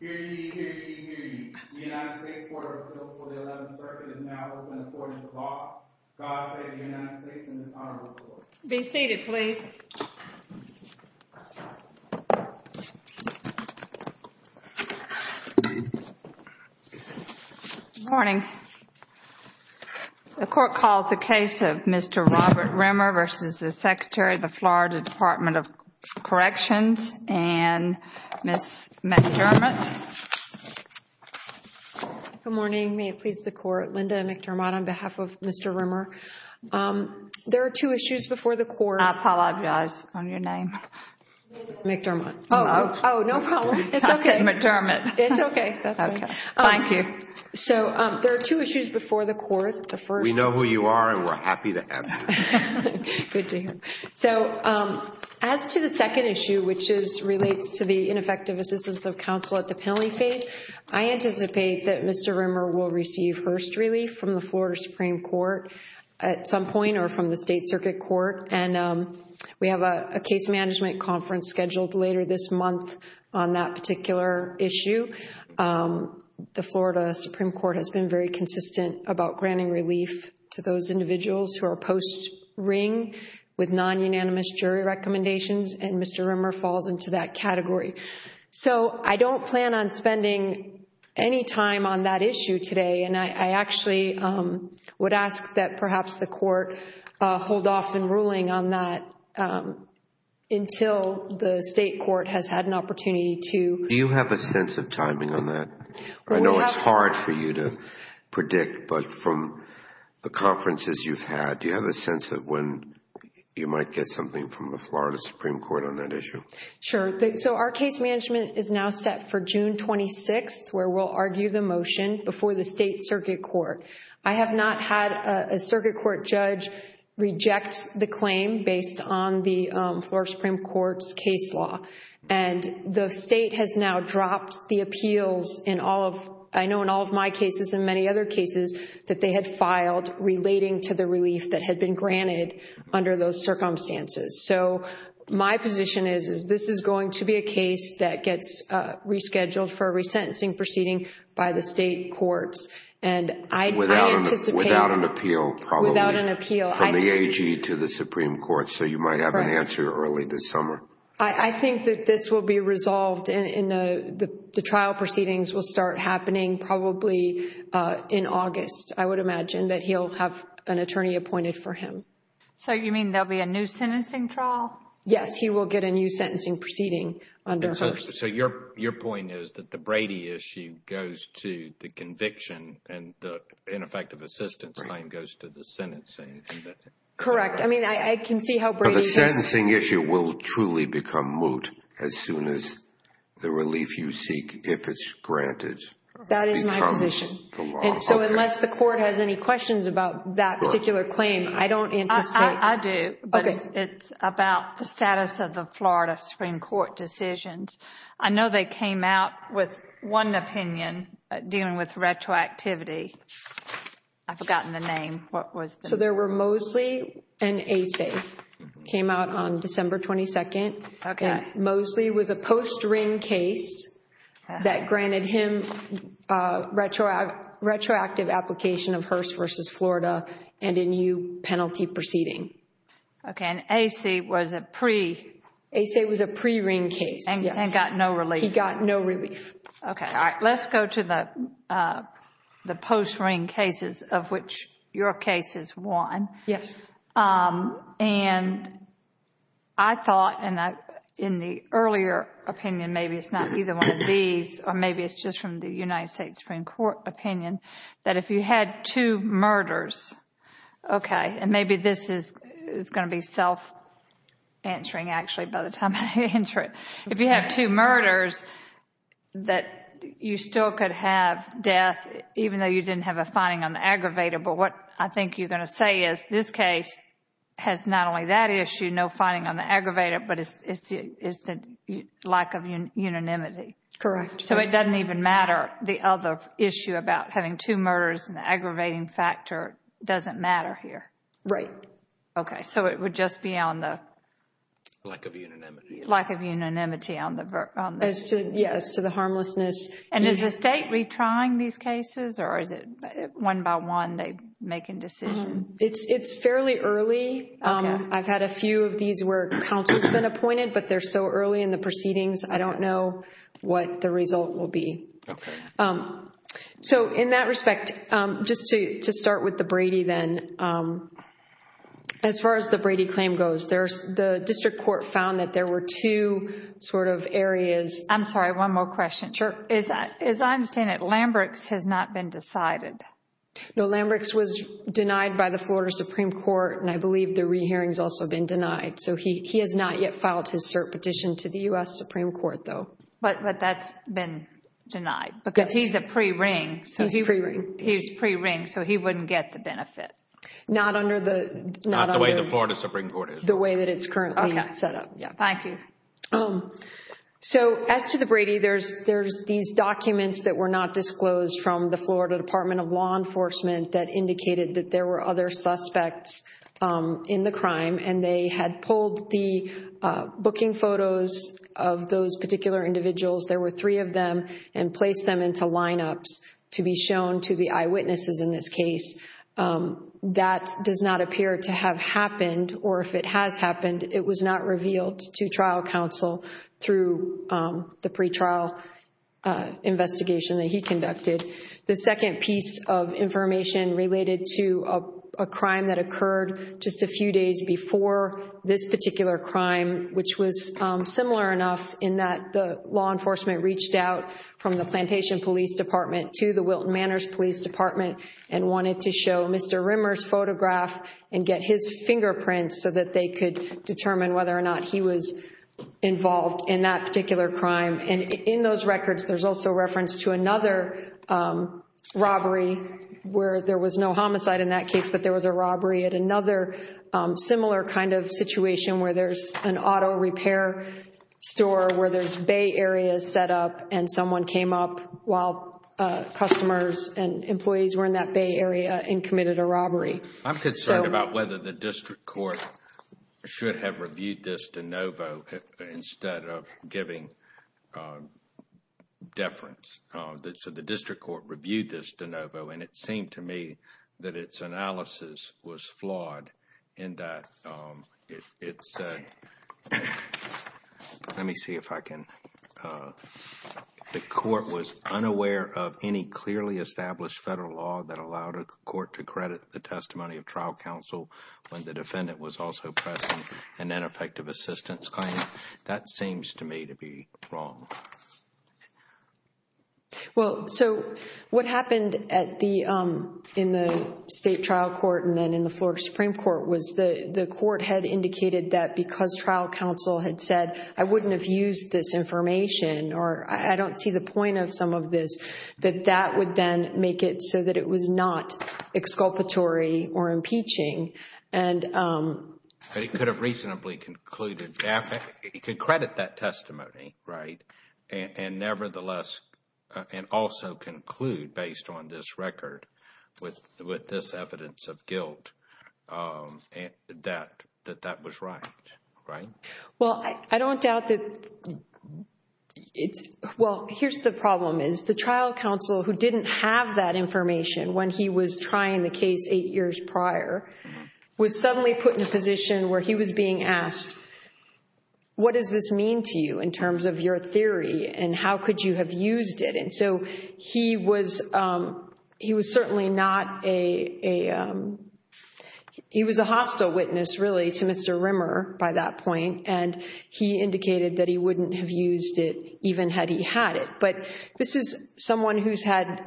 The United States Court of Appeals for the Eleventh Circuit is now open to the Court of the Law. God bless the United States and this Honorable Court. Be seated please. Good morning. The Court calls the case of Mr. Robert Rimmer v. Secretary, FL DOC and Ms. McDermott. Good morning. May it please the Court. Linda McDermott on behalf of Mr. Rimmer. There are two issues before the Court. I apologize on your name. McDermott. Hello. Oh, no problem. It's okay. I said McDermott. It's okay. That's okay. Thank you. So, there are two issues before the Court. The first... We know who you are and we're happy to answer. Good to hear. So, as to the second issue, which relates to the ineffective assistance of counsel at the penalty phase, I anticipate that Mr. Rimmer will receive first relief from the Florida Supreme Court at some point or from the State Circuit Court. And we have a case management conference scheduled later this month on that particular issue. The Florida Supreme Court has been very consistent about granting relief to those individuals who are post-ring with non-unanimous jury recommendations, and Mr. Rimmer falls into that category. So, I don't plan on spending any time on that issue today, and I actually would ask that perhaps the Court hold off in ruling on that until the State Court has had an opportunity to... Do you have a sense of timing on that? I know it's hard for you to predict, but from the conferences you've had, do you have a sense of when you might get something from the Florida Supreme Court on that issue? Sure. So, our case management is now set for June 26th, where we'll argue the motion before the State Circuit Court. I have not had a Circuit Court judge reject the claim based on the Florida Supreme Court's case law. And the State has now dropped the appeals in all of... I know in all of my cases and many other cases that they had filed relating to the relief that had been granted under those circumstances. So, my position is, is this is going to be a case that gets rescheduled for a resentencing proceeding by the State Courts, and I anticipate... Without an appeal? Without an appeal. From the AG to the Supreme Court, so you might have an answer early this summer. I think that this will be resolved, and the trial proceedings will start happening probably in August. I would imagine that he'll have an attorney appointed for him. So, you mean there'll be a new sentencing trial? Yes, he will get a new sentencing proceeding under Hearst. So, your point is that the Brady issue goes to the conviction, and the ineffective assistance claim goes to the sentencing? Correct. I mean, I can see how Brady... But the sentencing issue will truly become moot as soon as the relief you seek, if it's granted... So, unless the court has any questions about that particular claim, I don't anticipate... I do, but it's about the status of the Florida Supreme Court decisions. I know they came out with one opinion dealing with retroactivity. I've forgotten the name. What was it? So, there were Mosley and Acey. It came out on December 22nd. Okay. Mosley was a post-ring case that granted him retroactive application of Hearst v. Florida and a new penalty proceeding. Okay, and Acey was a pre... Acey was a pre-ring case, yes. And got no relief. He got no relief. Okay, all right. Let's go to the post-ring cases of which your case is one. Yes. And I thought, and in the earlier opinion, maybe it's not either one of these, or maybe it's just from the United States Supreme Court opinion, that if you had two murders... Okay, and maybe this is going to be self-answering actually by the time I answer it. If you have two murders, that you still could have death even though you didn't have a finding on the aggravator. But what I think you're going to say is this case has not only that issue, no finding on the aggravator, but it's the lack of unanimity. Correct. So, it doesn't even matter. The other issue about having two murders and the aggravating factor doesn't matter here. Right. Okay, so it would just be on the... Lack of unanimity. Lack of unanimity on the... Yes, as to the harmlessness. And is the state retrying these cases, or is it one by one they're making decisions? It's fairly early. I've had a few of these where counsel's been appointed, but they're so early in the proceedings, I don't know what the result will be. Okay. So, in that respect, just to start with the Brady then, as far as the Brady claim goes, the district court found that there were two sort of areas... I'm sorry, one more question. Sure. As I understand it, Lambrex has not been decided. No, Lambrex was denied by the Florida Supreme Court, and I believe the re-hearing's also been denied. So, he has not yet filed his cert petition to the U.S. Supreme Court, though. But that's been denied because he's a pre-ring. He's pre-ring. He's pre-ring, so he wouldn't get the benefit. Not under the... Not the way the Florida Supreme Court is. The way that it's currently set up. Okay. Thank you. So, as to the Brady, there's these documents that were not disclosed from the Florida Department of Law Enforcement that indicated that there were other suspects in the crime, and they had pulled the booking photos of those particular individuals. There were three of them and placed them into lineups to be shown to the eyewitnesses in this case. That does not appear to have happened, or if it has happened, it was not revealed to trial counsel through the pretrial investigation that he conducted. The second piece of information related to a crime that occurred just a few days before this particular crime, which was similar enough in that the law enforcement reached out from the Plantation Police Department to the Wilton Manors Police Department and wanted to show Mr. Rimmer's photograph and get his fingerprints so that they could determine whether or not he was involved in that particular crime. And in those records, there's also reference to another robbery where there was no homicide in that case, but there was a robbery at another similar kind of situation where there's an auto repair store, where there's bay areas set up and someone came up while customers and employees were in that bay area and committed a robbery. I'm concerned about whether the district court should have reviewed this de novo instead of giving deference. So the district court reviewed this de novo, and it seemed to me that its analysis was flawed in that it said... Let me see if I can... The court was unaware of any clearly established federal law that allowed a court to credit the testimony of trial counsel when the defendant was also pressing an ineffective assistance claim. That seems to me to be wrong. Well, so what happened in the state trial court and then in the floor of the Supreme Court was the court had indicated that because trial counsel had said, I wouldn't have used this information or I don't see the point of some of this, that that would then make it so that it was not exculpatory or impeaching and... It could have reasonably concluded... it could credit that testimony, right, and nevertheless... and also conclude based on this record with this evidence of guilt that that was right, right? Well, I don't doubt that... Well, here's the problem is the trial counsel who didn't have that information when he was trying the case eight years prior was suddenly put in a position where he was being asked, what does this mean to you in terms of your theory and how could you have used it? And so he was... he was certainly not a... He was a hostile witness really to Mr. Rimmer by that point, and he indicated that he wouldn't have used it even had he had it. But this is someone who's had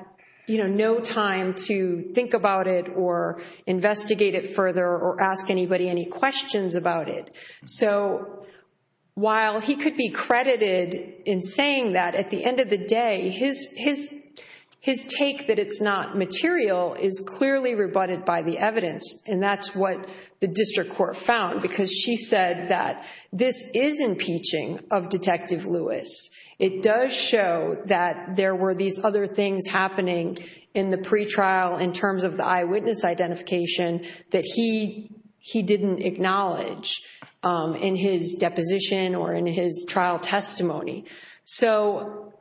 no time to think about it or investigate it further or ask anybody any questions about it. So while he could be credited in saying that, at the end of the day, his take that it's not material is clearly rebutted by the evidence, and that's what the district court found because she said that this is impeaching of Detective Lewis. It does show that there were these other things happening in the pretrial in terms of the eyewitness identification that he didn't acknowledge in his deposition or in his trial testimony. So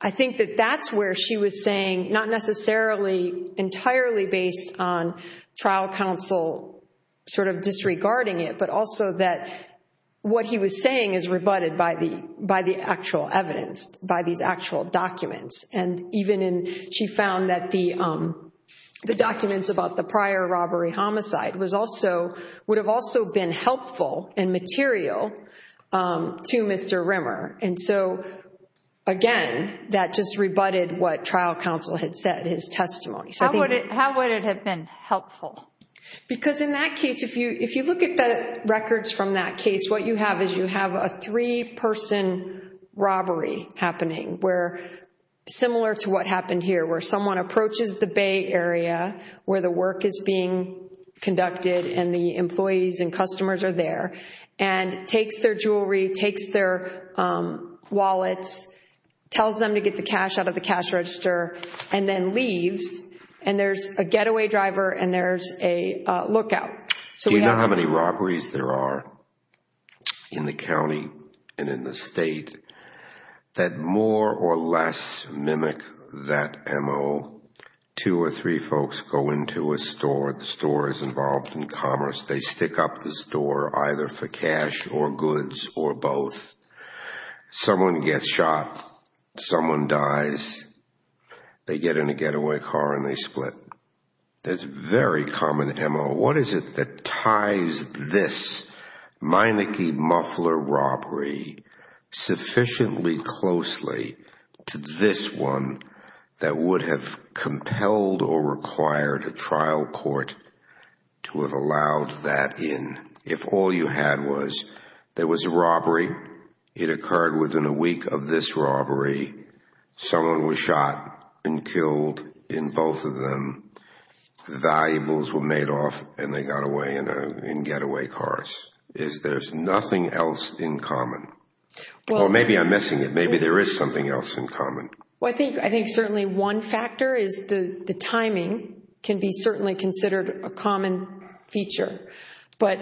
I think that that's where she was saying, not necessarily entirely based on trial counsel sort of disregarding it, but also that what he was saying is rebutted by the actual evidence, by these actual documents. And even in... she found that the documents about the prior robbery homicide was also... would have also been helpful and material to Mr. Rimmer. And so, again, that just rebutted what trial counsel had said, his testimony. How would it have been helpful? Because in that case, if you look at the records from that case, what you have is you have a three-person robbery happening where, similar to what happened here, where someone approaches the Bay Area where the work is being conducted and the employees and customers are there, and takes their jewelry, takes their wallets, tells them to get the cash out of the cash register, and then leaves. And there's a getaway driver and there's a lookout. So we have... Do you know how many robberies there are in the county and in the state that more or less mimic that MO? Two or three folks go into a store. The store is involved in commerce. They stick up the store either for cash or goods or both. Someone gets shot. Someone dies. They get in a getaway car and they split. There's very common MO. What is it that ties this Meineke muffler robbery sufficiently closely to this one that would have compelled or required a trial court to have allowed that in? If all you had was there was a robbery, it occurred within a week of this robbery. Someone was shot and killed in both of them. The valuables were made off and they got away in getaway cars. There's nothing else in common. Or maybe I'm missing it. Maybe there is something else in common. I think certainly one factor is the timing can be certainly considered a common feature. But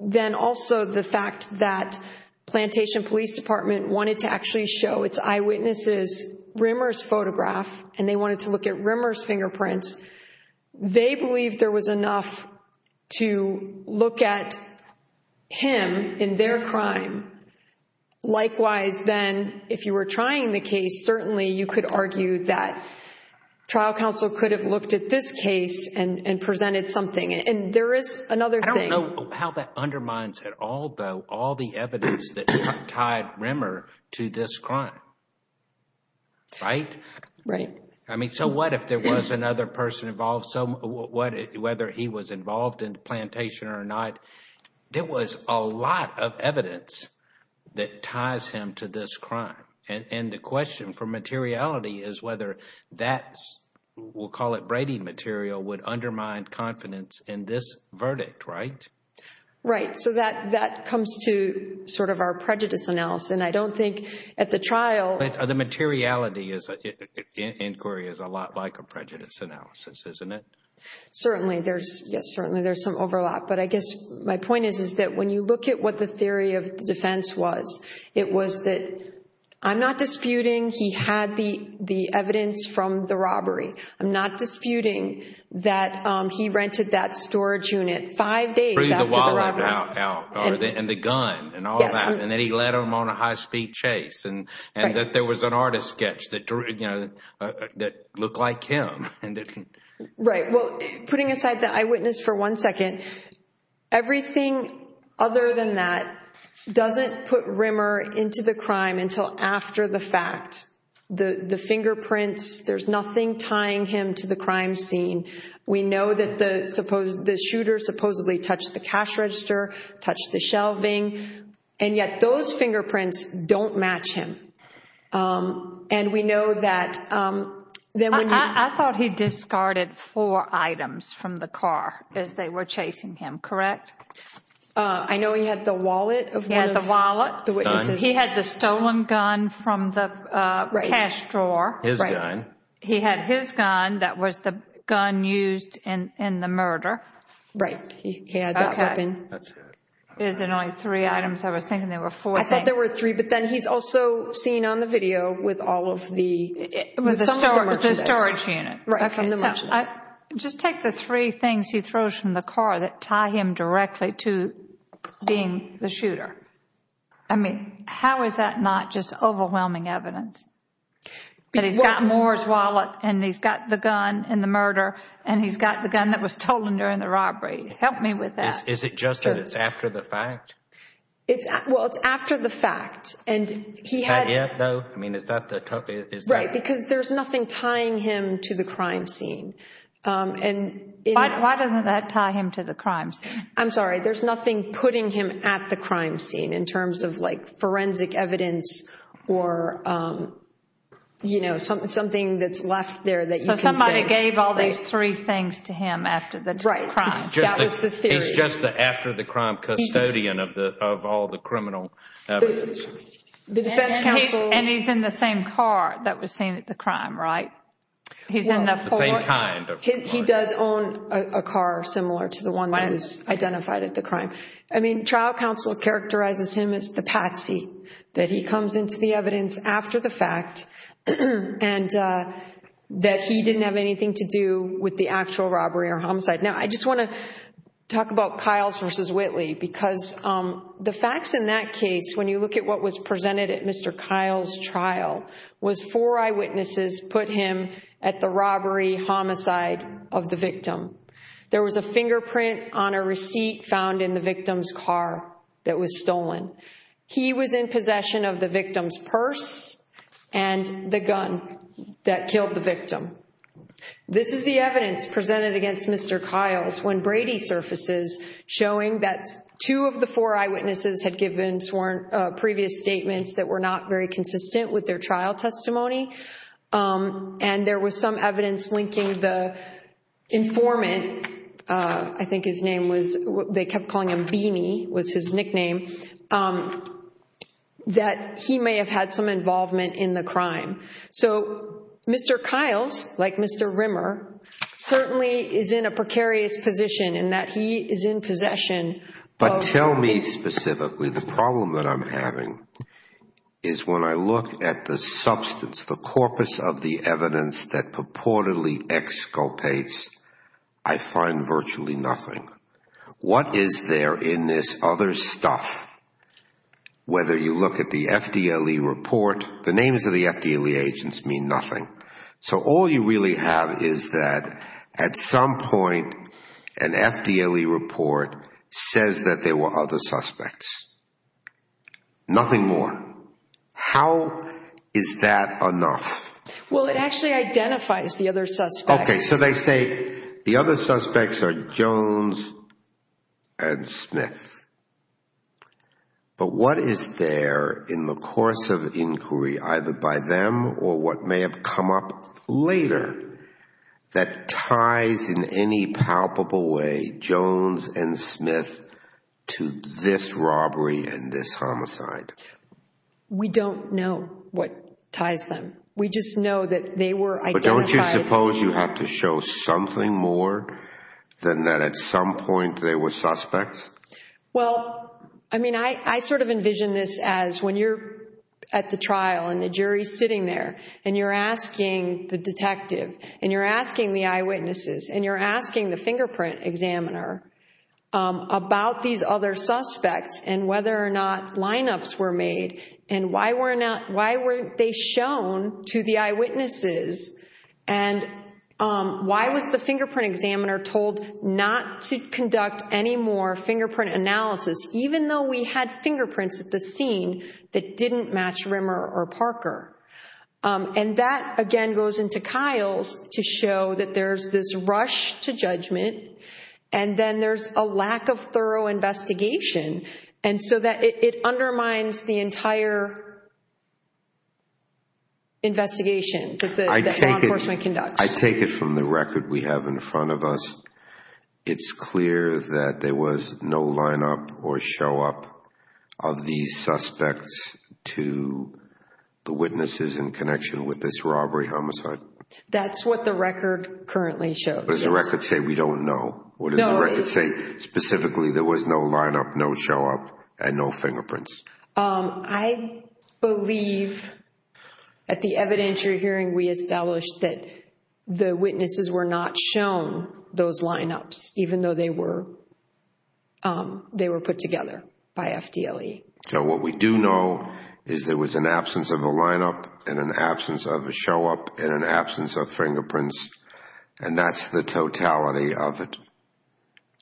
then also the fact that Plantation Police Department wanted to actually show its eyewitnesses Rimmer's photograph and they wanted to look at Rimmer's fingerprints, they believed there was enough to look at him in their crime. Likewise, then, if you were trying the case, certainly you could argue that trial counsel could have looked at this case and presented something. And there is another thing. I don't know how that undermines at all, though, all the evidence that tied Rimmer to this crime. Right? Right. I mean, so what if there was another person involved? So whether he was involved in the plantation or not, there was a lot of evidence that ties him to this crime. And the question for materiality is whether that, we'll call it braiding material, would undermine confidence in this verdict. Right? Right. So that comes to sort of our prejudice analysis. And I don't think at the trial— The materiality inquiry is a lot like a prejudice analysis, isn't it? Certainly. Yes, certainly there's some overlap. But I guess my point is that when you look at what the theory of defense was, it was that I'm not disputing he had the evidence from the robbery. I'm not disputing that he rented that storage unit five days after the robbery. And the gun and all that. And then he led them on a high-speed chase. And that there was an artist sketch that looked like him. Right. Well, putting aside the eyewitness for one second, everything other than that doesn't put Rimmer into the crime until after the fact. The fingerprints, there's nothing tying him to the crime scene. We know that the shooter supposedly touched the cash register, touched the shelving. And yet those fingerprints don't match him. And we know that— I thought he discarded four items from the car as they were chasing him, correct? I know he had the wallet of one of the witnesses. He had the wallet. He had the gun from the cash drawer. His gun. He had his gun. That was the gun used in the murder. Right. He had that weapon. Is it only three items? I was thinking there were four things. I thought there were three. But then he's also seen on the video with all of the— With the storage unit. Right. Just take the three things he throws from the car that tie him directly to being the shooter. I mean, how is that not just overwhelming evidence? That he's got Moore's wallet, and he's got the gun in the murder, and he's got the gun that was stolen during the robbery. Help me with that. Is it just that it's after the fact? Well, it's after the fact. And he had— Not yet, though? I mean, is that the— Right, because there's nothing tying him to the crime scene. Why doesn't that tie him to the crime scene? I'm sorry. There's nothing putting him at the crime scene in terms of, like, forensic evidence or, you know, something that's left there that you can say— So somebody gave all these three things to him after the crime. Right. That was the theory. He's just the after-the-crime custodian of all the criminal evidence. The defense counsel— And he's in the same car that was seen at the crime, right? He's in the four— Well, the same kind of car. He does own a car similar to the one that was identified at the crime. I mean, trial counsel characterizes him as the patsy, that he comes into the evidence after the fact and that he didn't have anything to do with the actual robbery or homicide. Now, I just want to talk about Kiles v. Whitley because the facts in that case, when you look at what was presented at Mr. Kiles' trial, was four eyewitnesses put him at the robbery, homicide of the victim. There was a fingerprint on a receipt found in the victim's car that was stolen. He was in possession of the victim's purse and the gun that killed the victim. This is the evidence presented against Mr. Kiles when Brady surfaces, showing that two of the four eyewitnesses had given previous statements that were not very consistent with their trial testimony. And there was some evidence linking the informant—I think his name was— they kept calling him Beanie was his nickname— that he may have had some involvement in the crime. So Mr. Kiles, like Mr. Rimmer, certainly is in a precarious position in that he is in possession of— is when I look at the substance, the corpus of the evidence that purportedly exculpates, I find virtually nothing. What is there in this other stuff? Whether you look at the FDLE report, the names of the FDLE agents mean nothing. So all you really have is that at some point an FDLE report says that there were other suspects. Nothing more. How is that enough? Well, it actually identifies the other suspects. Okay, so they say the other suspects are Jones and Smith. But what is there in the course of inquiry, either by them or what may have come up later, that ties in any palpable way Jones and Smith to this robbery and this homicide? We don't know what ties them. We just know that they were identified— But don't you suppose you have to show something more than that at some point there were suspects? Well, I mean, I sort of envision this as when you're at the trial and the jury's sitting there and you're asking the detective and you're asking the eyewitnesses and you're asking the fingerprint examiner about these other suspects and whether or not lineups were made and why weren't they shown to the eyewitnesses and why was the fingerprint examiner told not to conduct any more fingerprint analysis, even though we had fingerprints at the scene that didn't match Rimmer or Parker. And that, again, goes into Kyle's to show that there's this rush to judgment and then there's a lack of thorough investigation, and so that it undermines the entire investigation that law enforcement conducts. I take it from the record we have in front of us. It's clear that there was no lineup or showup of these suspects to the witnesses in connection with this robbery homicide? That's what the record currently shows. What does the record say we don't know? What does the record say specifically there was no lineup, no showup, and no fingerprints? I believe at the evidentiary hearing we established that the witnesses were not shown those lineups, even though they were put together by FDLE. So what we do know is there was an absence of a lineup and an absence of a showup and an absence of fingerprints, and that's the totality of it.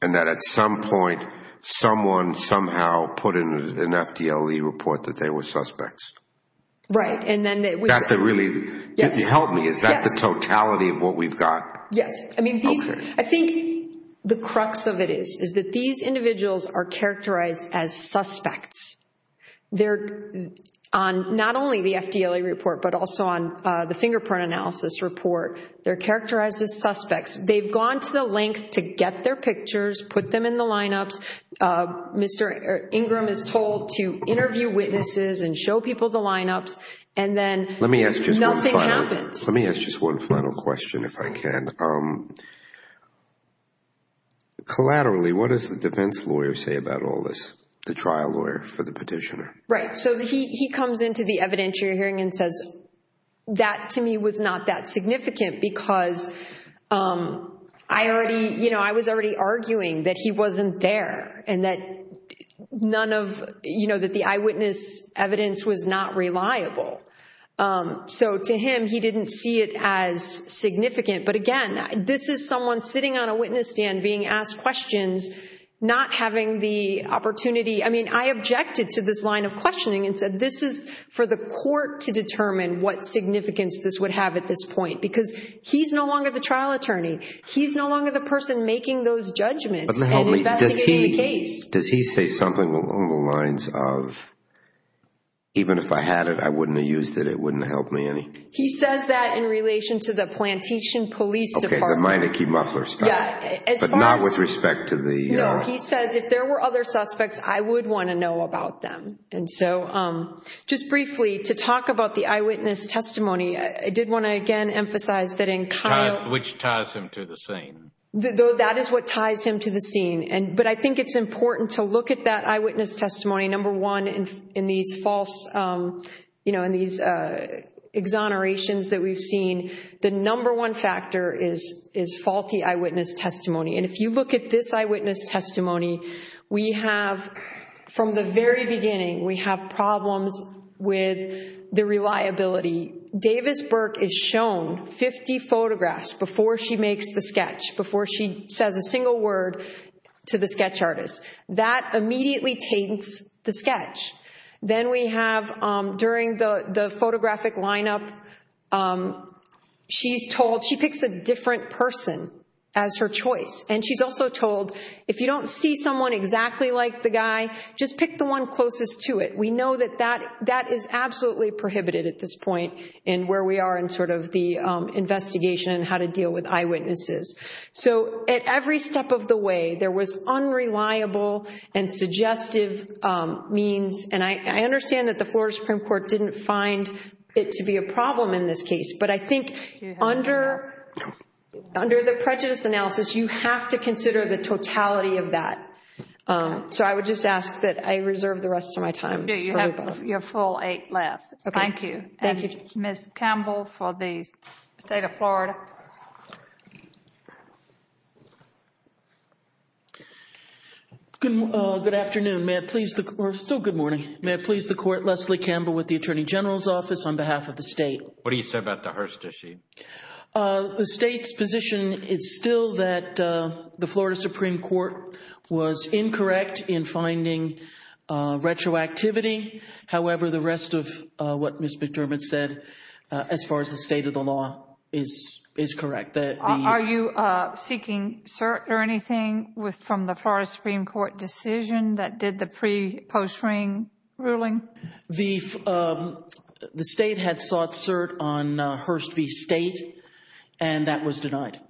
And that at some point someone somehow put in an FDLE report that they were suspects? Right. That really helped me. Is that the totality of what we've got? Yes. I think the crux of it is that these individuals are characterized as suspects. They're on not only the FDLE report but also on the fingerprint analysis report. They're characterized as suspects. They've gone to the length to get their pictures, put them in the lineups. Mr. Ingram is told to interview witnesses and show people the lineups, and then nothing happens. Let me ask just one final question if I can. Collaterally, what does the defense lawyer say about all this, the trial lawyer for the petitioner? Right. So he comes into the evidentiary hearing and says, that to me was not that significant because I was already arguing that he wasn't there and that the eyewitness evidence was not reliable. So to him, he didn't see it as significant. But again, this is someone sitting on a witness stand being asked questions, not having the opportunity. I mean, I objected to this line of questioning and said, this is for the court to determine what significance this would have at this point because he's no longer the trial attorney. He's no longer the person making those judgments and investigating the case. Does he say something along the lines of, even if I had it, I wouldn't have used it? It wouldn't have helped me any? He says that in relation to the Plantation Police Department. Okay, the Meineke muffler stuff. But not with respect to the— He says, if there were other suspects, I would want to know about them. And so just briefly, to talk about the eyewitness testimony, I did want to again emphasize that in kind of— Which ties him to the scene. That is what ties him to the scene. But I think it's important to look at that eyewitness testimony, number one, in these false exonerations that we've seen. The number one factor is faulty eyewitness testimony. And if you look at this eyewitness testimony, we have, from the very beginning, we have problems with the reliability. Davis Burke is shown 50 photographs before she makes the sketch, before she says a single word to the sketch artist. That immediately taints the sketch. Then we have, during the photographic lineup, she's told—she picks a different person as her choice. And she's also told, if you don't see someone exactly like the guy, just pick the one closest to it. We know that that is absolutely prohibited at this point in where we are in sort of the investigation and how to deal with eyewitnesses. So at every step of the way, there was unreliable and suggestive means. And I understand that the Florida Supreme Court didn't find it to be a problem in this case. But I think under the prejudice analysis, you have to consider the totality of that. So I would just ask that I reserve the rest of my time. You have your full eight left. Thank you. Thank you. Ms. Campbell for the State of Florida. Good afternoon. Still good morning. May it please the Court, Leslie Campbell with the Attorney General's Office on behalf of the State. What do you say about the Hearst issue? The State's position is still that the Florida Supreme Court was incorrect in finding retroactivity. However, the rest of what Ms. McDermott said, as far as the state of the law, is correct. Are you seeking cert or anything from the Florida Supreme Court decision that did the pre-post-ring ruling? The State had sought cert on Hearst v. State, and that was denied.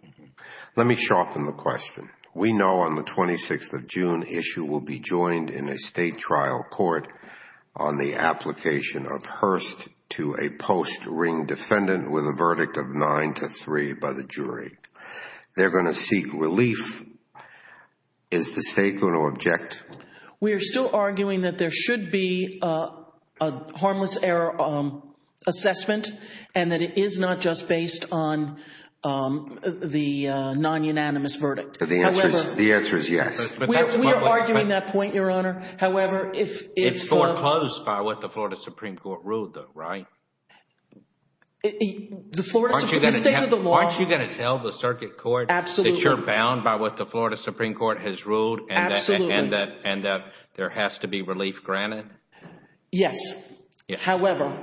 Let me sharpen the question. We know on the 26th of June, issue will be joined in a State trial court on the application of Hearst to a post-ring defendant with a verdict of 9-3 by the jury. They're going to seek relief. Is the State going to object? We are still arguing that there should be a harmless error assessment and that it is not just based on the non-unanimous verdict. The answer is yes. We are arguing that point, Your Honor. It's foreclosed by what the Florida Supreme Court ruled, though, right? The state of the law. Aren't you going to tell the circuit court that you're bound by what the Florida Supreme Court has ruled and that there has to be relief granted? Yes. However,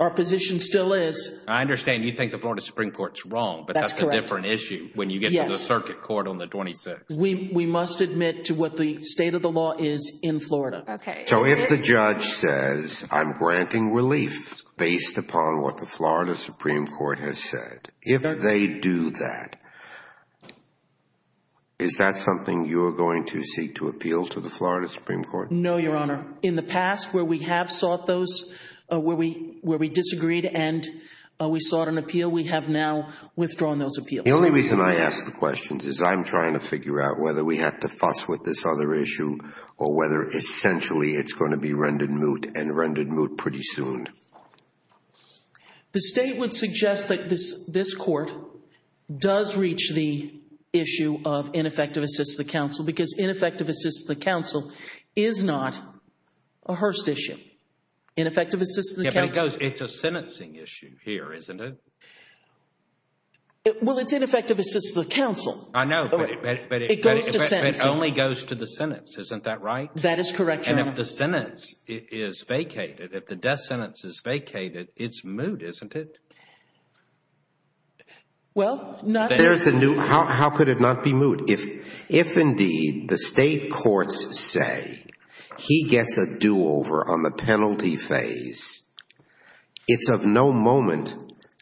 our position still is. I understand you think the Florida Supreme Court is wrong, but that's a different issue when you get to the circuit court on the 26th. We must admit to what the state of the law is in Florida. Okay. So if the judge says, I'm granting relief based upon what the Florida Supreme Court has said, if they do that, is that something you are going to seek to appeal to the Florida Supreme Court? No, Your Honor. In the past where we have sought those, where we disagreed and we sought an appeal, we have now withdrawn those appeals. The only reason I ask the questions is I'm trying to figure out whether we have to fuss with this other issue or whether essentially it's going to be rendered moot and rendered moot pretty soon. The state would suggest that this court does reach the issue of ineffective assistance to the counsel because ineffective assistance to the counsel is not a Hearst issue. Ineffective assistance to the counsel. It's a sentencing issue here, isn't it? Well, it's ineffective assistance to the counsel. I know, but it only goes to the sentence. Isn't that right? That is correct, Your Honor. And if the sentence is vacated, if the death sentence is vacated, it's moot, isn't it? Well, not. How could it not be moot? If indeed the state courts say he gets a do-over on the penalty phase, it's of no moment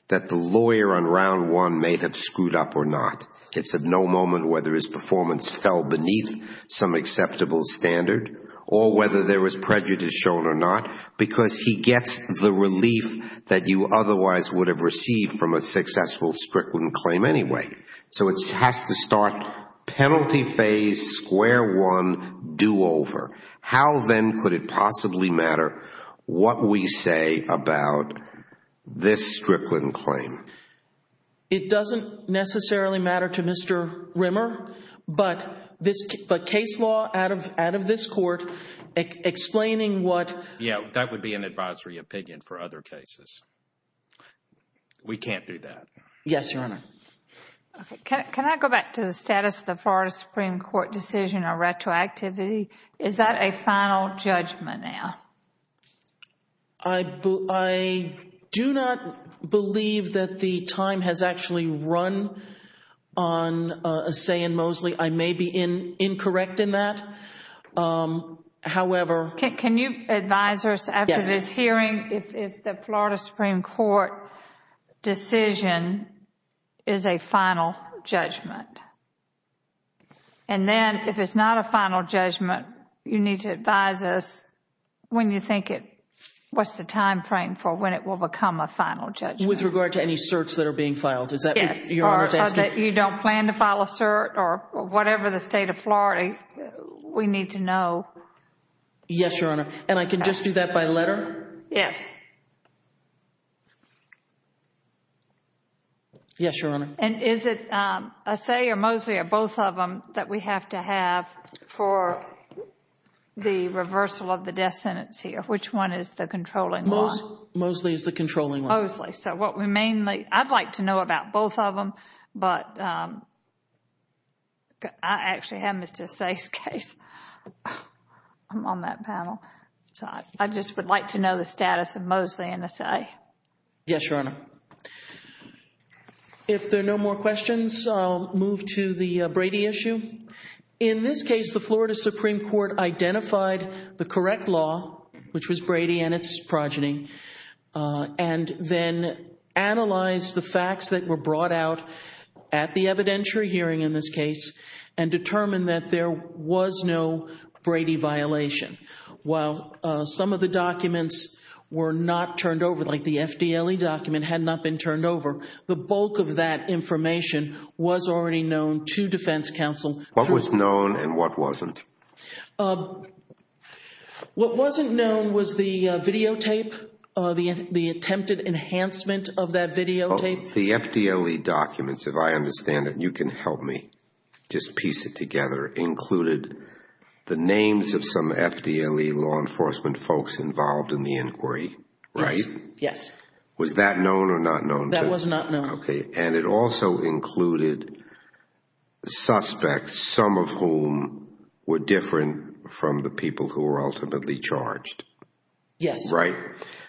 that the lawyer on round one may have screwed up or not. It's of no moment whether his performance fell beneath some acceptable standard or whether there was prejudice shown or not because he gets the relief that you otherwise would have received from a successful Strickland claim anyway. So it has to start penalty phase, square one, do-over. How then could it possibly matter what we say about this Strickland claim? It doesn't necessarily matter to Mr. Rimmer, but case law out of this court explaining what... Yes, that would be an advisory opinion for other cases. We can't do that. Yes, Your Honor. Can I go back to the status of the Florida Supreme Court decision on retroactivity? Is that a final judgment now? I do not believe that the time has actually run on a say in Mosley. I may be incorrect in that. However... Can you advise us after this hearing if the Florida Supreme Court decision is a final judgment? And then if it's not a final judgment, you need to advise us when you think it... what's the time frame for when it will become a final judgment? With regard to any certs that are being filed? Yes. Or that you don't plan to file a cert or whatever the state of Florida... we need to know. Yes, Your Honor. And I can just do that by letter? Yes. Yes, Your Honor. And is it Assay or Mosley or both of them that we have to have for the reversal of the death sentence here? Which one is the controlling law? Mosley is the controlling law. Mosley. So, what we mainly... I'd like to know about both of them, but I actually have Mr. Assay's case on that panel. So, I just would like to know the status of Mosley and Assay. Yes, Your Honor. If there are no more questions, I'll move to the Brady issue. In this case, the Florida Supreme Court identified the correct law, which was Brady and its progeny... and then analyzed the facts that were brought out at the evidentiary hearing in this case... and determined that there was no Brady violation. While some of the documents were not turned over, like the FDLE document had not been turned over... the bulk of that information was already known to defense counsel. What was known and what wasn't? What wasn't known was the videotape, the attempted enhancement of that videotape. The FDLE documents, if I understand it, and you can help me just piece it together... included the names of some FDLE law enforcement folks involved in the inquiry, right? Yes. Was that known or not known? That was not known. Okay. And, it also included suspects, some of whom were different from the people who were ultimately charged. Yes. Right?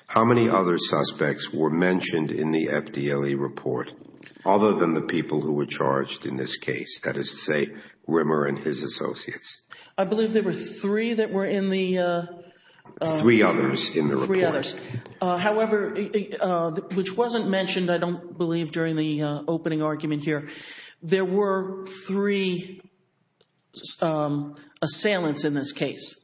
How many other suspects were mentioned in the FDLE report, other than the people who were charged in this case? That is to say, Rimmer and his associates. I believe there were three that were in the... Three others in the report. Three others. However, which wasn't mentioned, I don't believe, during the opening argument here. There were three assailants in this case.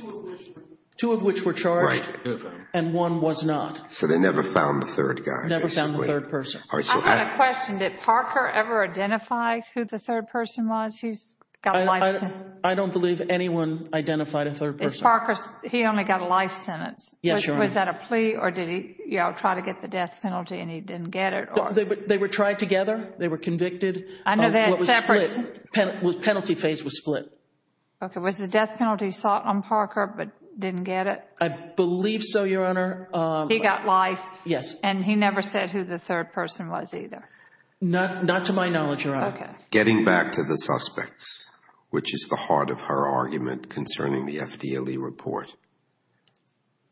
Two of which were... Two of which were charged. Right. And, one was not. So, they never found the third guy, basically. Never found the third person. I've got a question. Did Parker ever identify who the third person was? He's got a life sentence. I don't believe anyone identified a third person. Did Parker... he only got a life sentence. Yes, Your Honor. Was that a plea or did he try to get the death penalty and he didn't get it? They were tried together. They were convicted. I know they had separate... It was split. The penalty phase was split. Okay. Was the death penalty sought on Parker but didn't get it? I believe so, Your Honor. He got life. Yes. And, he never said who the third person was either. Not to my knowledge, Your Honor. Okay. Getting back to the suspects, which is the heart of her argument concerning the FDLE report,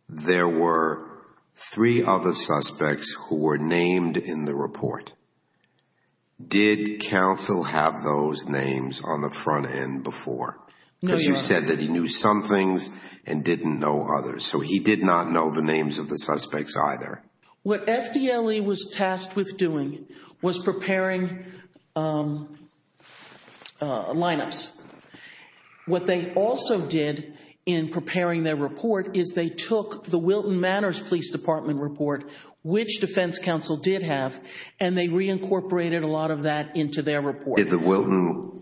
there were three other suspects who were named in the report. Did counsel have those names on the front end before? No, Your Honor. Because you said that he knew some things and didn't know others. So, he did not know the names of the suspects either. What FDLE was tasked with doing was preparing lineups. What they also did in preparing their report is they took the Wilton Manors Police Department report, which defense counsel did have, and they reincorporated a lot of that into their report. Did the Wilton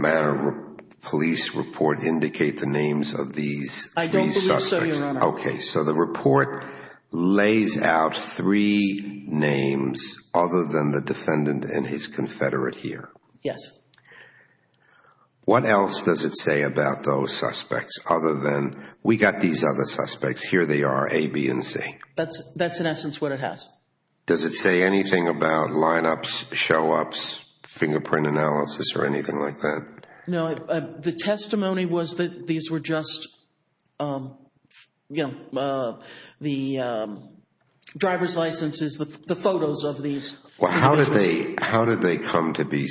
Manor Police report indicate the names of these three suspects? I don't believe so, Your Honor. Okay. So, the report lays out three names other than the defendant and his confederate here. Yes. What else does it say about those suspects other than... We got these other suspects. Here they are, A, B, and C. That's in essence what it has. Does it say anything about lineups, showups, fingerprint analysis, or anything like that? No. The testimony was that these were just the driver's licenses, the photos of these individuals. How did they come to be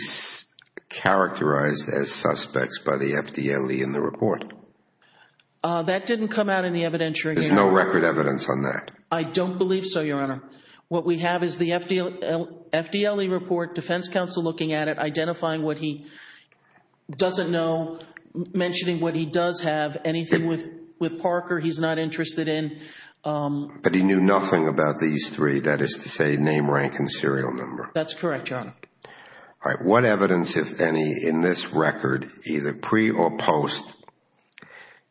characterized as suspects by the FDLE in the report? That didn't come out in the evidentiary. There's no record evidence on that? I don't believe so, Your Honor. What we have is the FDLE report, defense counsel looking at it, identifying what he doesn't know, mentioning what he does have, anything with Parker he's not interested in. But he knew nothing about these three, that is to say, name, rank, and serial number. That's correct, Your Honor. All right. What evidence, if any, in this record, either pre or post,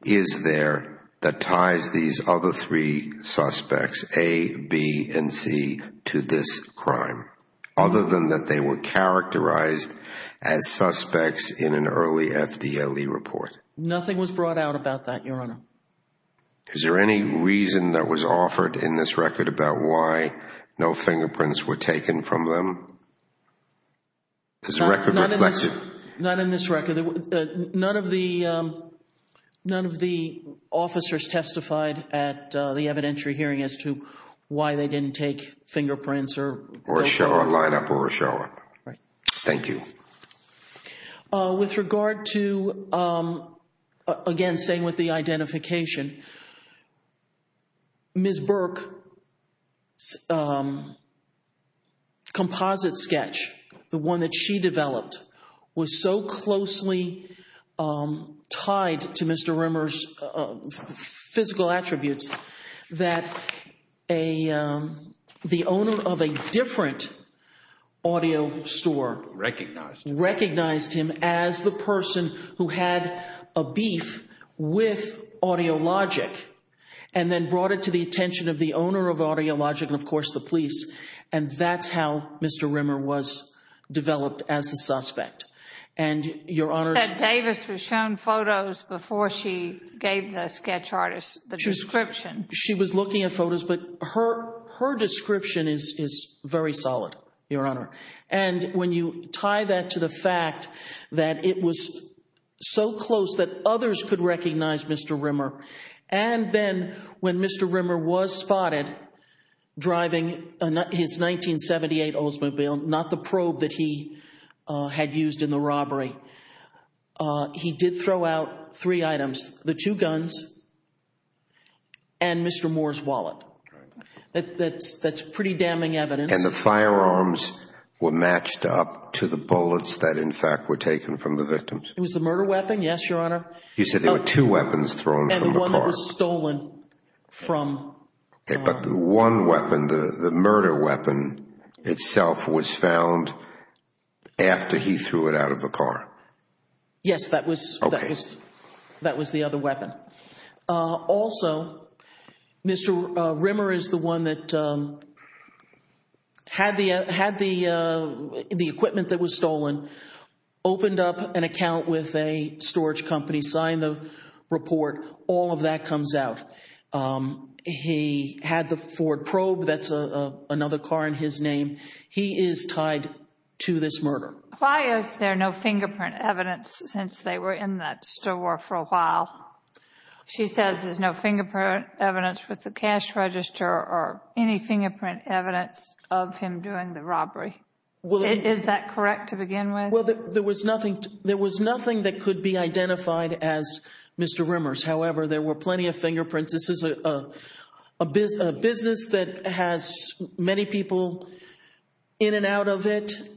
is there that ties these other three suspects, A, B, and C, to this crime, other than that they were characterized as suspects in an early FDLE report? Nothing was brought out about that, Your Honor. Is there any reason that was offered in this record about why no fingerprints were taken from them? Does the record reflect it? Not in this record. None of the officers testified at the evidentiary hearing as to why they didn't take fingerprints. Or show up, line up, or show up. Right. Thank you. With regard to, again, staying with the identification, Ms. Burke's composite sketch, the one that she developed, was so closely tied to Mr. Rimmer's physical attributes that the owner of a different audio store recognized him as the person who had a beef with Audiologic, and then brought it to the attention of the owner of Audiologic and, of course, the police. And that's how Mr. Rimmer was developed as the suspect. And, Your Honor— Ms. Davis was shown photos before she gave the sketch artist the description. She was looking at photos, but her description is very solid, Your Honor. And when you tie that to the fact that it was so close that others could recognize Mr. Rimmer, and then when Mr. Rimmer was spotted driving his 1978 Oldsmobile, not the probe that he had used in the robbery, he did throw out three items, the two guns and Mr. Moore's wallet. That's pretty damning evidence. And the firearms were matched up to the bullets that, in fact, were taken from the victims. It was the murder weapon, yes, Your Honor. You said there were two weapons thrown from the car. And the one that was stolen from— But the one weapon, the murder weapon itself, was found after he threw it out of the car. Yes, that was the other weapon. Also, Mr. Rimmer is the one that had the equipment that was stolen, opened up an account with a storage company, signed the report. All of that comes out. He had the Ford probe. That's another car in his name. He is tied to this murder. Why is there no fingerprint evidence since they were in that store for a while? She says there's no fingerprint evidence with the cash register or any fingerprint evidence of him doing the robbery. Is that correct to begin with? Well, there was nothing that could be identified as Mr. Rimmer's. However, there were plenty of fingerprints. This is a business that has many people in and out of it. But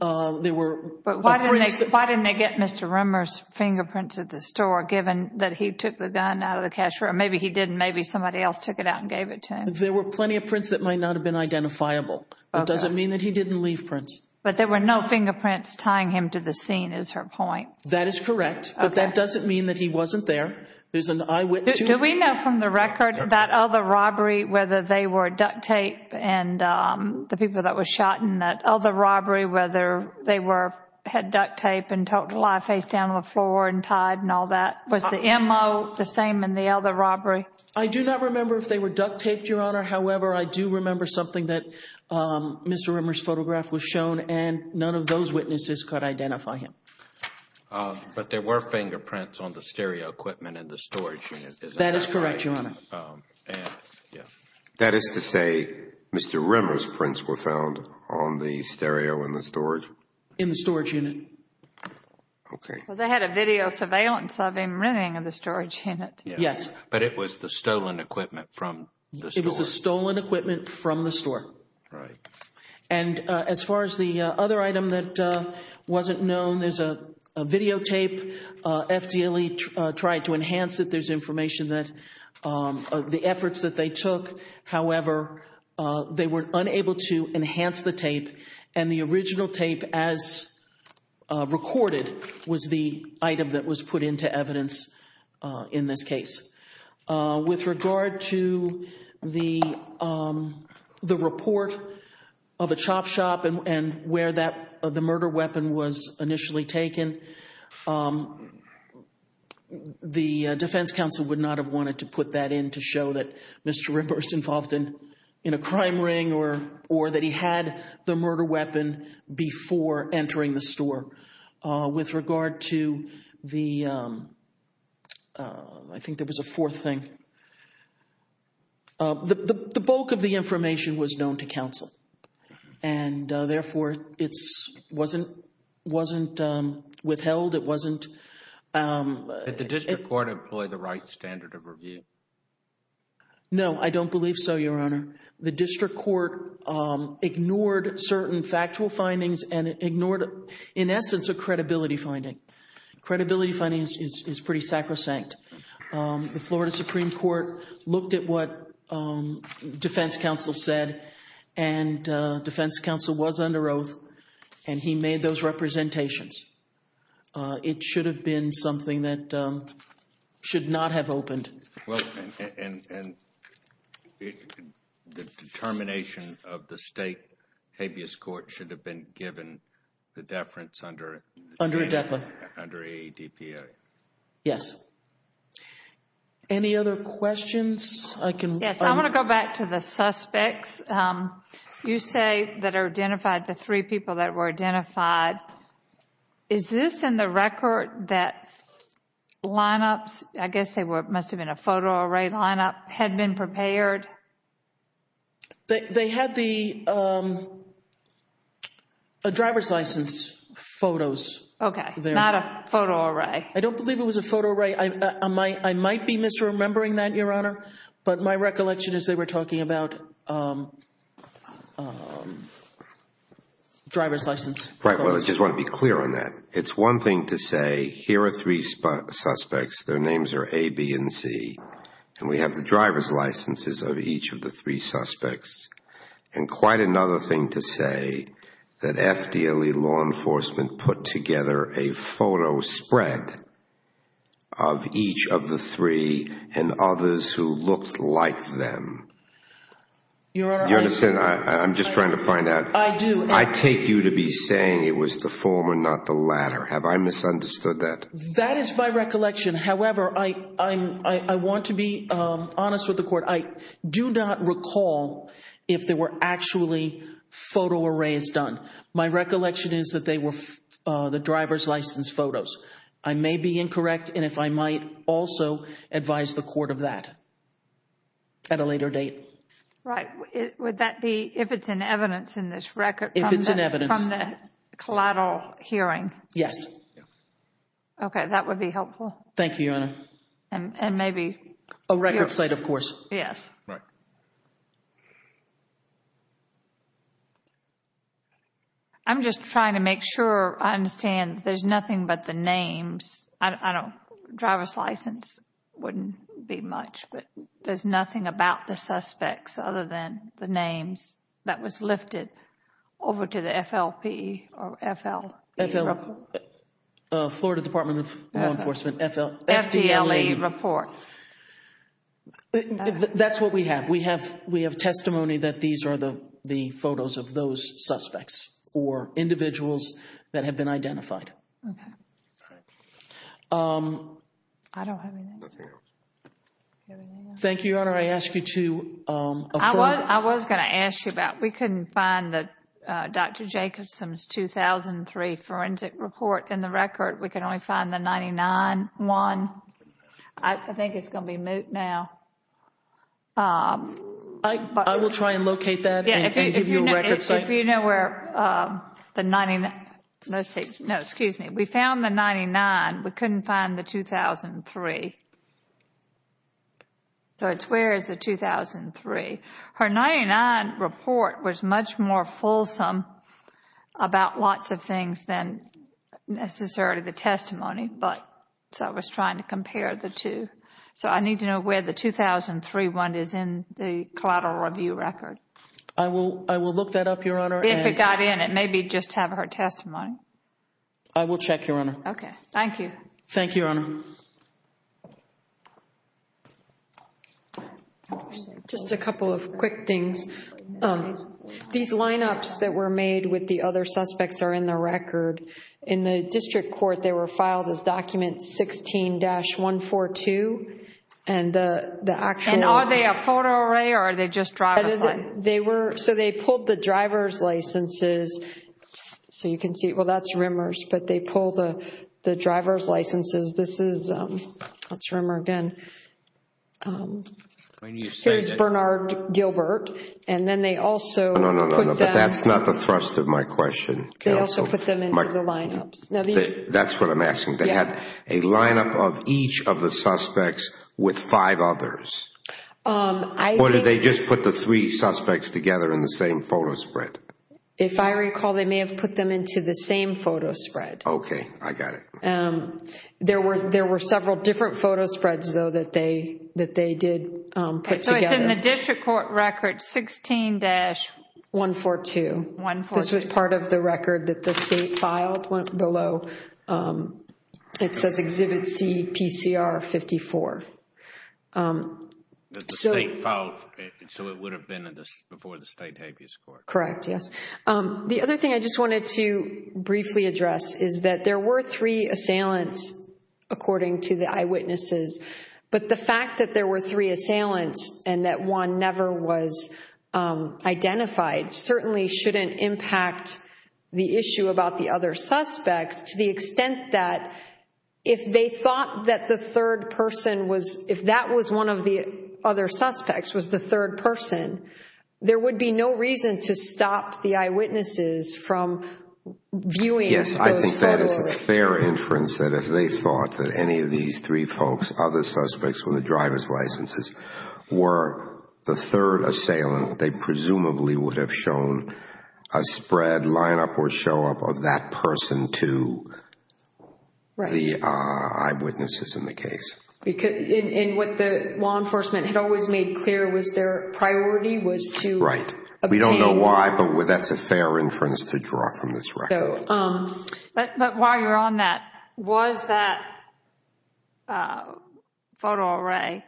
why didn't they get Mr. Rimmer's fingerprints at the store, given that he took the gun out of the cash register? Maybe he didn't. Maybe somebody else took it out and gave it to him. There were plenty of prints that might not have been identifiable. It doesn't mean that he didn't leave prints. But there were no fingerprints tying him to the scene, is her point. That is correct. But that doesn't mean that he wasn't there. There's an eyewitness. Do we know from the record that other robbery, whether they were duct tape and the people that were shot in that other robbery, whether they had duct tape and talked a lot face down on the floor and tied and all that? Was the M.O. the same in the other robbery? I do not remember if they were duct taped, Your Honor. However, I do remember something that Mr. Rimmer's photograph was shown, and none of those witnesses could identify him. But there were fingerprints on the stereo equipment in the storage unit. That is correct, Your Honor. That is to say, Mr. Rimmer's prints were found on the stereo in the storage? In the storage unit. Okay. Well, they had a video surveillance of him running in the storage unit. Yes. But it was the stolen equipment from the store. It was the stolen equipment from the store. Right. And as far as the other item that wasn't known, there's a videotape. FDLE tried to enhance it. There's information that the efforts that they took, however, they were unable to enhance the tape, and the original tape as recorded was the item that was put into evidence in this case. With regard to the report of a chop shop and where the murder weapon was initially taken, the defense counsel would not have wanted to put that in to show that Mr. Rimmer's involved in a crime ring or that he had the murder weapon before entering the store. With regard to the, I think there was a fourth thing. The bulk of the information was known to counsel, and therefore it wasn't withheld. It wasn't. Did the district court employ the right standard of review? No, I don't believe so, Your Honor. The district court ignored certain factual findings and ignored, in essence, a credibility finding. Credibility findings is pretty sacrosanct. The Florida Supreme Court looked at what defense counsel said and defense counsel was under oath and he made those representations. It should have been something that should not have opened. The determination of the state habeas court should have been given the deference under ADPA. Yes. Any other questions? Yes, I want to go back to the suspects. You say that are identified the three people that were identified. Is this in the record that lineups, I guess they must have been a photo array lineup, had been prepared? They had the driver's license photos. Okay, not a photo array. I don't believe it was a photo array. I might be misremembering that, Your Honor, but my recollection is they were talking about driver's license photos. Right, well, I just want to be clear on that. It's one thing to say here are three suspects. Their names are A, B, and C. And we have the driver's licenses of each of the three suspects. And quite another thing to say that FDLE law enforcement put together a photo spread of each of the three and others who looked like them. Your Honor, I do. I'm just trying to find out. I do. I take you to be saying it was the former, not the latter. Have I misunderstood that? That is my recollection. However, I want to be honest with the court. I do not recall if there were actually photo arrays done. My recollection is that they were the driver's license photos. I may be incorrect, and if I might also advise the court of that at a later date. Right. Would that be if it's in evidence in this record from the collateral hearing? Yes. Okay, that would be helpful. Thank you, Your Honor. And maybe. A record site, of course. Yes. Right. I'm just trying to make sure I understand there's nothing but the names. I don't, driver's license wouldn't be much, but there's nothing about the suspects other than the names that was lifted over to the FLP or FL. Florida Department of Law Enforcement. FDLE report. That's what we have. We have testimony that these are the photos of those suspects or individuals that have been identified. Okay. I don't have anything else. Thank you, Your Honor. I ask you to affirm. I was going to ask you about. We couldn't find Dr. Jacobson's 2003 forensic report in the record. We can only find the 99 one. I think it's going to be moot now. I will try and locate that and give you a record site. If you know where the 99, let's see. No, excuse me. We found the 99. We couldn't find the 2003. So it's where is the 2003? Her 99 report was much more fulsome about lots of things than necessarily the testimony. So I was trying to compare the two. So I need to know where the 2003 one is in the collateral review record. I will look that up, Your Honor. If it got in it, maybe just have her testimony. I will check, Your Honor. Okay. Thank you. Thank you, Your Honor. Thank you. Just a couple of quick things. These lineups that were made with the other suspects are in the record. In the district court, they were filed as document 16-142. And are they a photo array or are they just driver's license? So they pulled the driver's licenses. So you can see, well, that's Rimmers. But they pulled the driver's licenses. This is, that's Rimmer again. Here's Bernard Gilbert. And then they also put them. No, no, no, but that's not the thrust of my question. They also put them into the lineups. That's what I'm asking. They had a lineup of each of the suspects with five others. Or did they just put the three suspects together in the same photo spread? If I recall, they may have put them into the same photo spread. Okay, I got it. There were several different photo spreads, though, that they did put together. So it's in the district court record, 16-142. This was part of the record that the state filed below. It says Exhibit C, PCR 54. The state filed, so it would have been before the state habeas court. Correct, yes. The other thing I just wanted to briefly address is that there were three assailants, according to the eyewitnesses. But the fact that there were three assailants and that one never was identified certainly shouldn't impact the issue about the other suspects to the extent that if they thought that the third person was, if that was one of the other suspects was the third person, there would be no reason to stop the eyewitnesses from viewing those photos. Yes, I think that is a fair inference that if they thought that any of these three folks, other suspects with the driver's licenses, were the third assailant, they presumably would have shown a spread, line up, or show up of that person to the eyewitnesses in the case. And what the law enforcement had always made clear was their priority was to obtain. We don't know why, but that's a fair inference to draw from this record. But while you're on that, was that photo array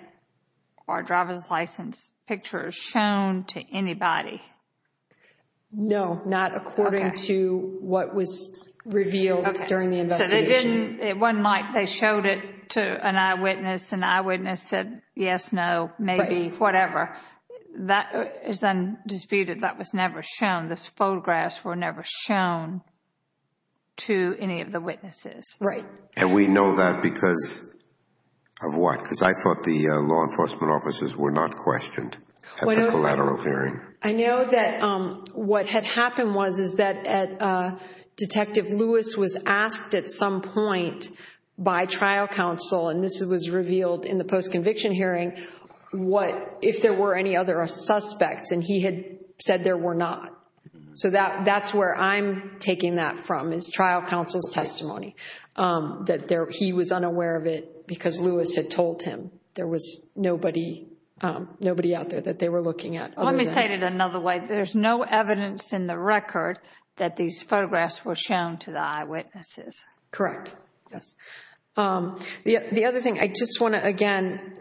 or driver's license picture shown to anybody? No, not according to what was revealed during the investigation. They showed it to an eyewitness. An eyewitness said yes, no, maybe, whatever. That is undisputed. That was never shown. Those photographs were never shown to any of the witnesses. Right. And we know that because of what? Because I thought the law enforcement officers were not questioned at the collateral hearing. I know that what had happened was that Detective Lewis was asked at some point by trial counsel, and this was revealed in the post-conviction hearing, if there were any other suspects, and he had said there were not. So that's where I'm taking that from is trial counsel's testimony, that he was unaware of it because Lewis had told him there was nobody out there that they were looking at. Let me state it another way. There's no evidence in the record that these photographs were shown to the eyewitnesses. Correct. Yes. The other thing, I just want to, again,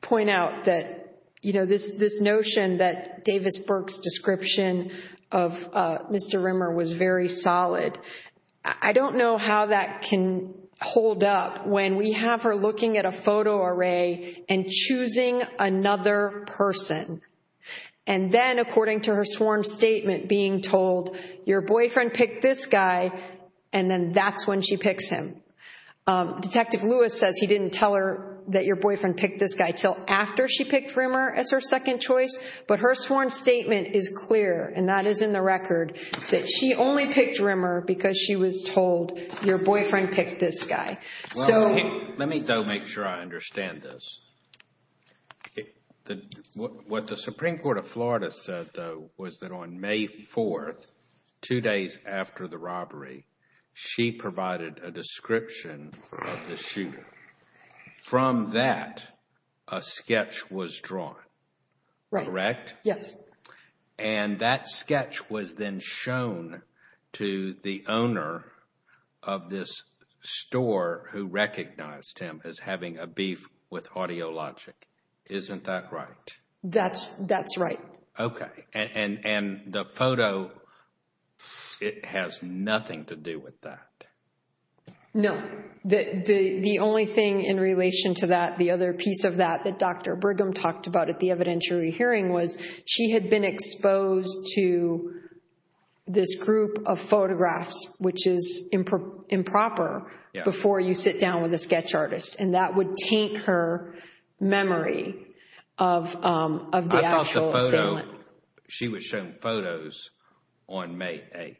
point out that, you know, this notion that Davis Burke's description of Mr. Rimmer was very solid, I don't know how that can hold up when we have her looking at a photo array and choosing another person, and then, according to her sworn statement, being told, your boyfriend picked this guy, and then that's when she picks him. Detective Lewis says he didn't tell her that your boyfriend picked this guy until after she picked Rimmer as her second choice, but her sworn statement is clear, and that is in the record, that she only picked Rimmer because she was told your boyfriend picked this guy. Let me, though, make sure I understand this. What the Supreme Court of Florida said, though, was that on May 4th, two days after the robbery, she provided a description of the shooter. From that, a sketch was drawn. Correct? Yes. And that sketch was then shown to the owner of this store who recognized him as having a beef with Audiologic. Isn't that right? That's right. Okay. And the photo, it has nothing to do with that. No. The only thing in relation to that, the other piece of that that Dr. Brigham talked about at the evidentiary hearing, was she had been exposed to this group of photographs, which is improper, before you sit down with a sketch artist, and that would taint her memory of the actual assailant. I thought the photo, she was shown photos on May 8th.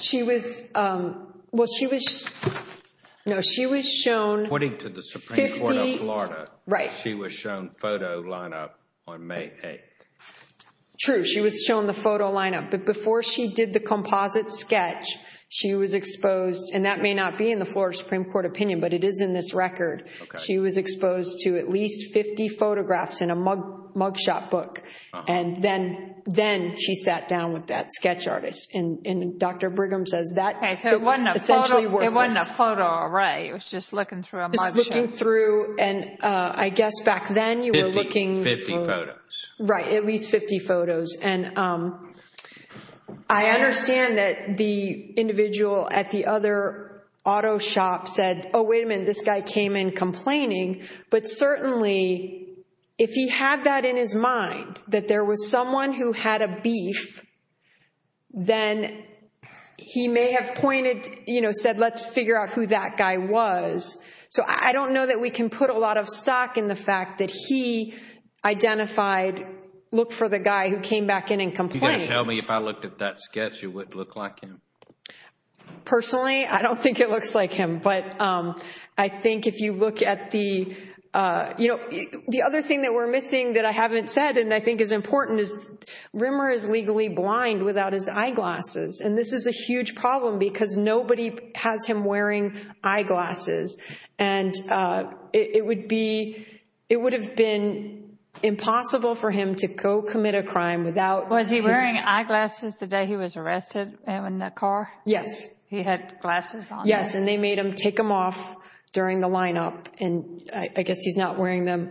She was, well, she was, no, she was shown... According to the Supreme Court of Florida, she was shown photo lineup on May 8th. True. She was shown the photo lineup, but before she did the composite sketch, she was exposed, and that may not be in the Florida Supreme Court opinion, but it is in this record. She was exposed to at least 50 photographs in a mugshot book, and then she sat down with that. That sketch artist, and Dr. Brigham says that... Okay, so it wasn't a photo array. It was just looking through a mugshot. Just looking through, and I guess back then you were looking... 50 photos. Right, at least 50 photos, and I understand that the individual at the other auto shop said, oh, wait a minute, this guy came in complaining, but certainly, if he had that in his mind, that there was someone who had a beef, then he may have pointed, you know, said, let's figure out who that guy was. So I don't know that we can put a lot of stock in the fact that he identified, looked for the guy who came back in and complained. Can you guys tell me if I looked at that sketch, it would look like him? Personally, I don't think it looks like him, but I think if you look at the... What I think is important is Rimmer is legally blind without his eyeglasses, and this is a huge problem because nobody has him wearing eyeglasses, and it would have been impossible for him to co-commit a crime without... Was he wearing eyeglasses the day he was arrested in the car? Yes. He had glasses on? Yes, and they made him take them off during the lineup, and I guess he's not wearing them.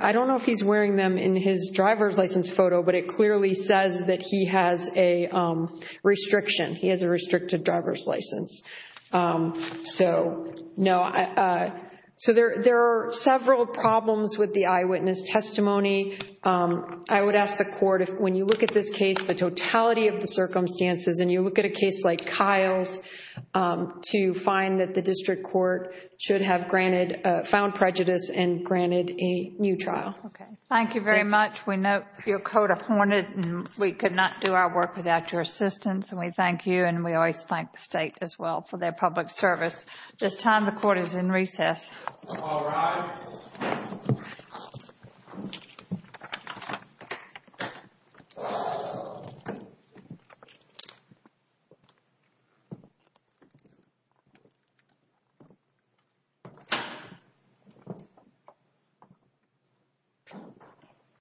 I don't know if he's wearing them in his driver's license photo, but it clearly says that he has a restriction. He has a restricted driver's license. So there are several problems with the eyewitness testimony. I would ask the court, when you look at this case, the totality of the circumstances, and you look at a case like Kyle's, to find that the district court should have found prejudice and granted a new trial. Okay. Thank you very much. We note your court appointed, and we could not do our work without your assistance, and we thank you, and we always thank the state as well for their public service. At this time, the court is in recess. All rise. Thank you.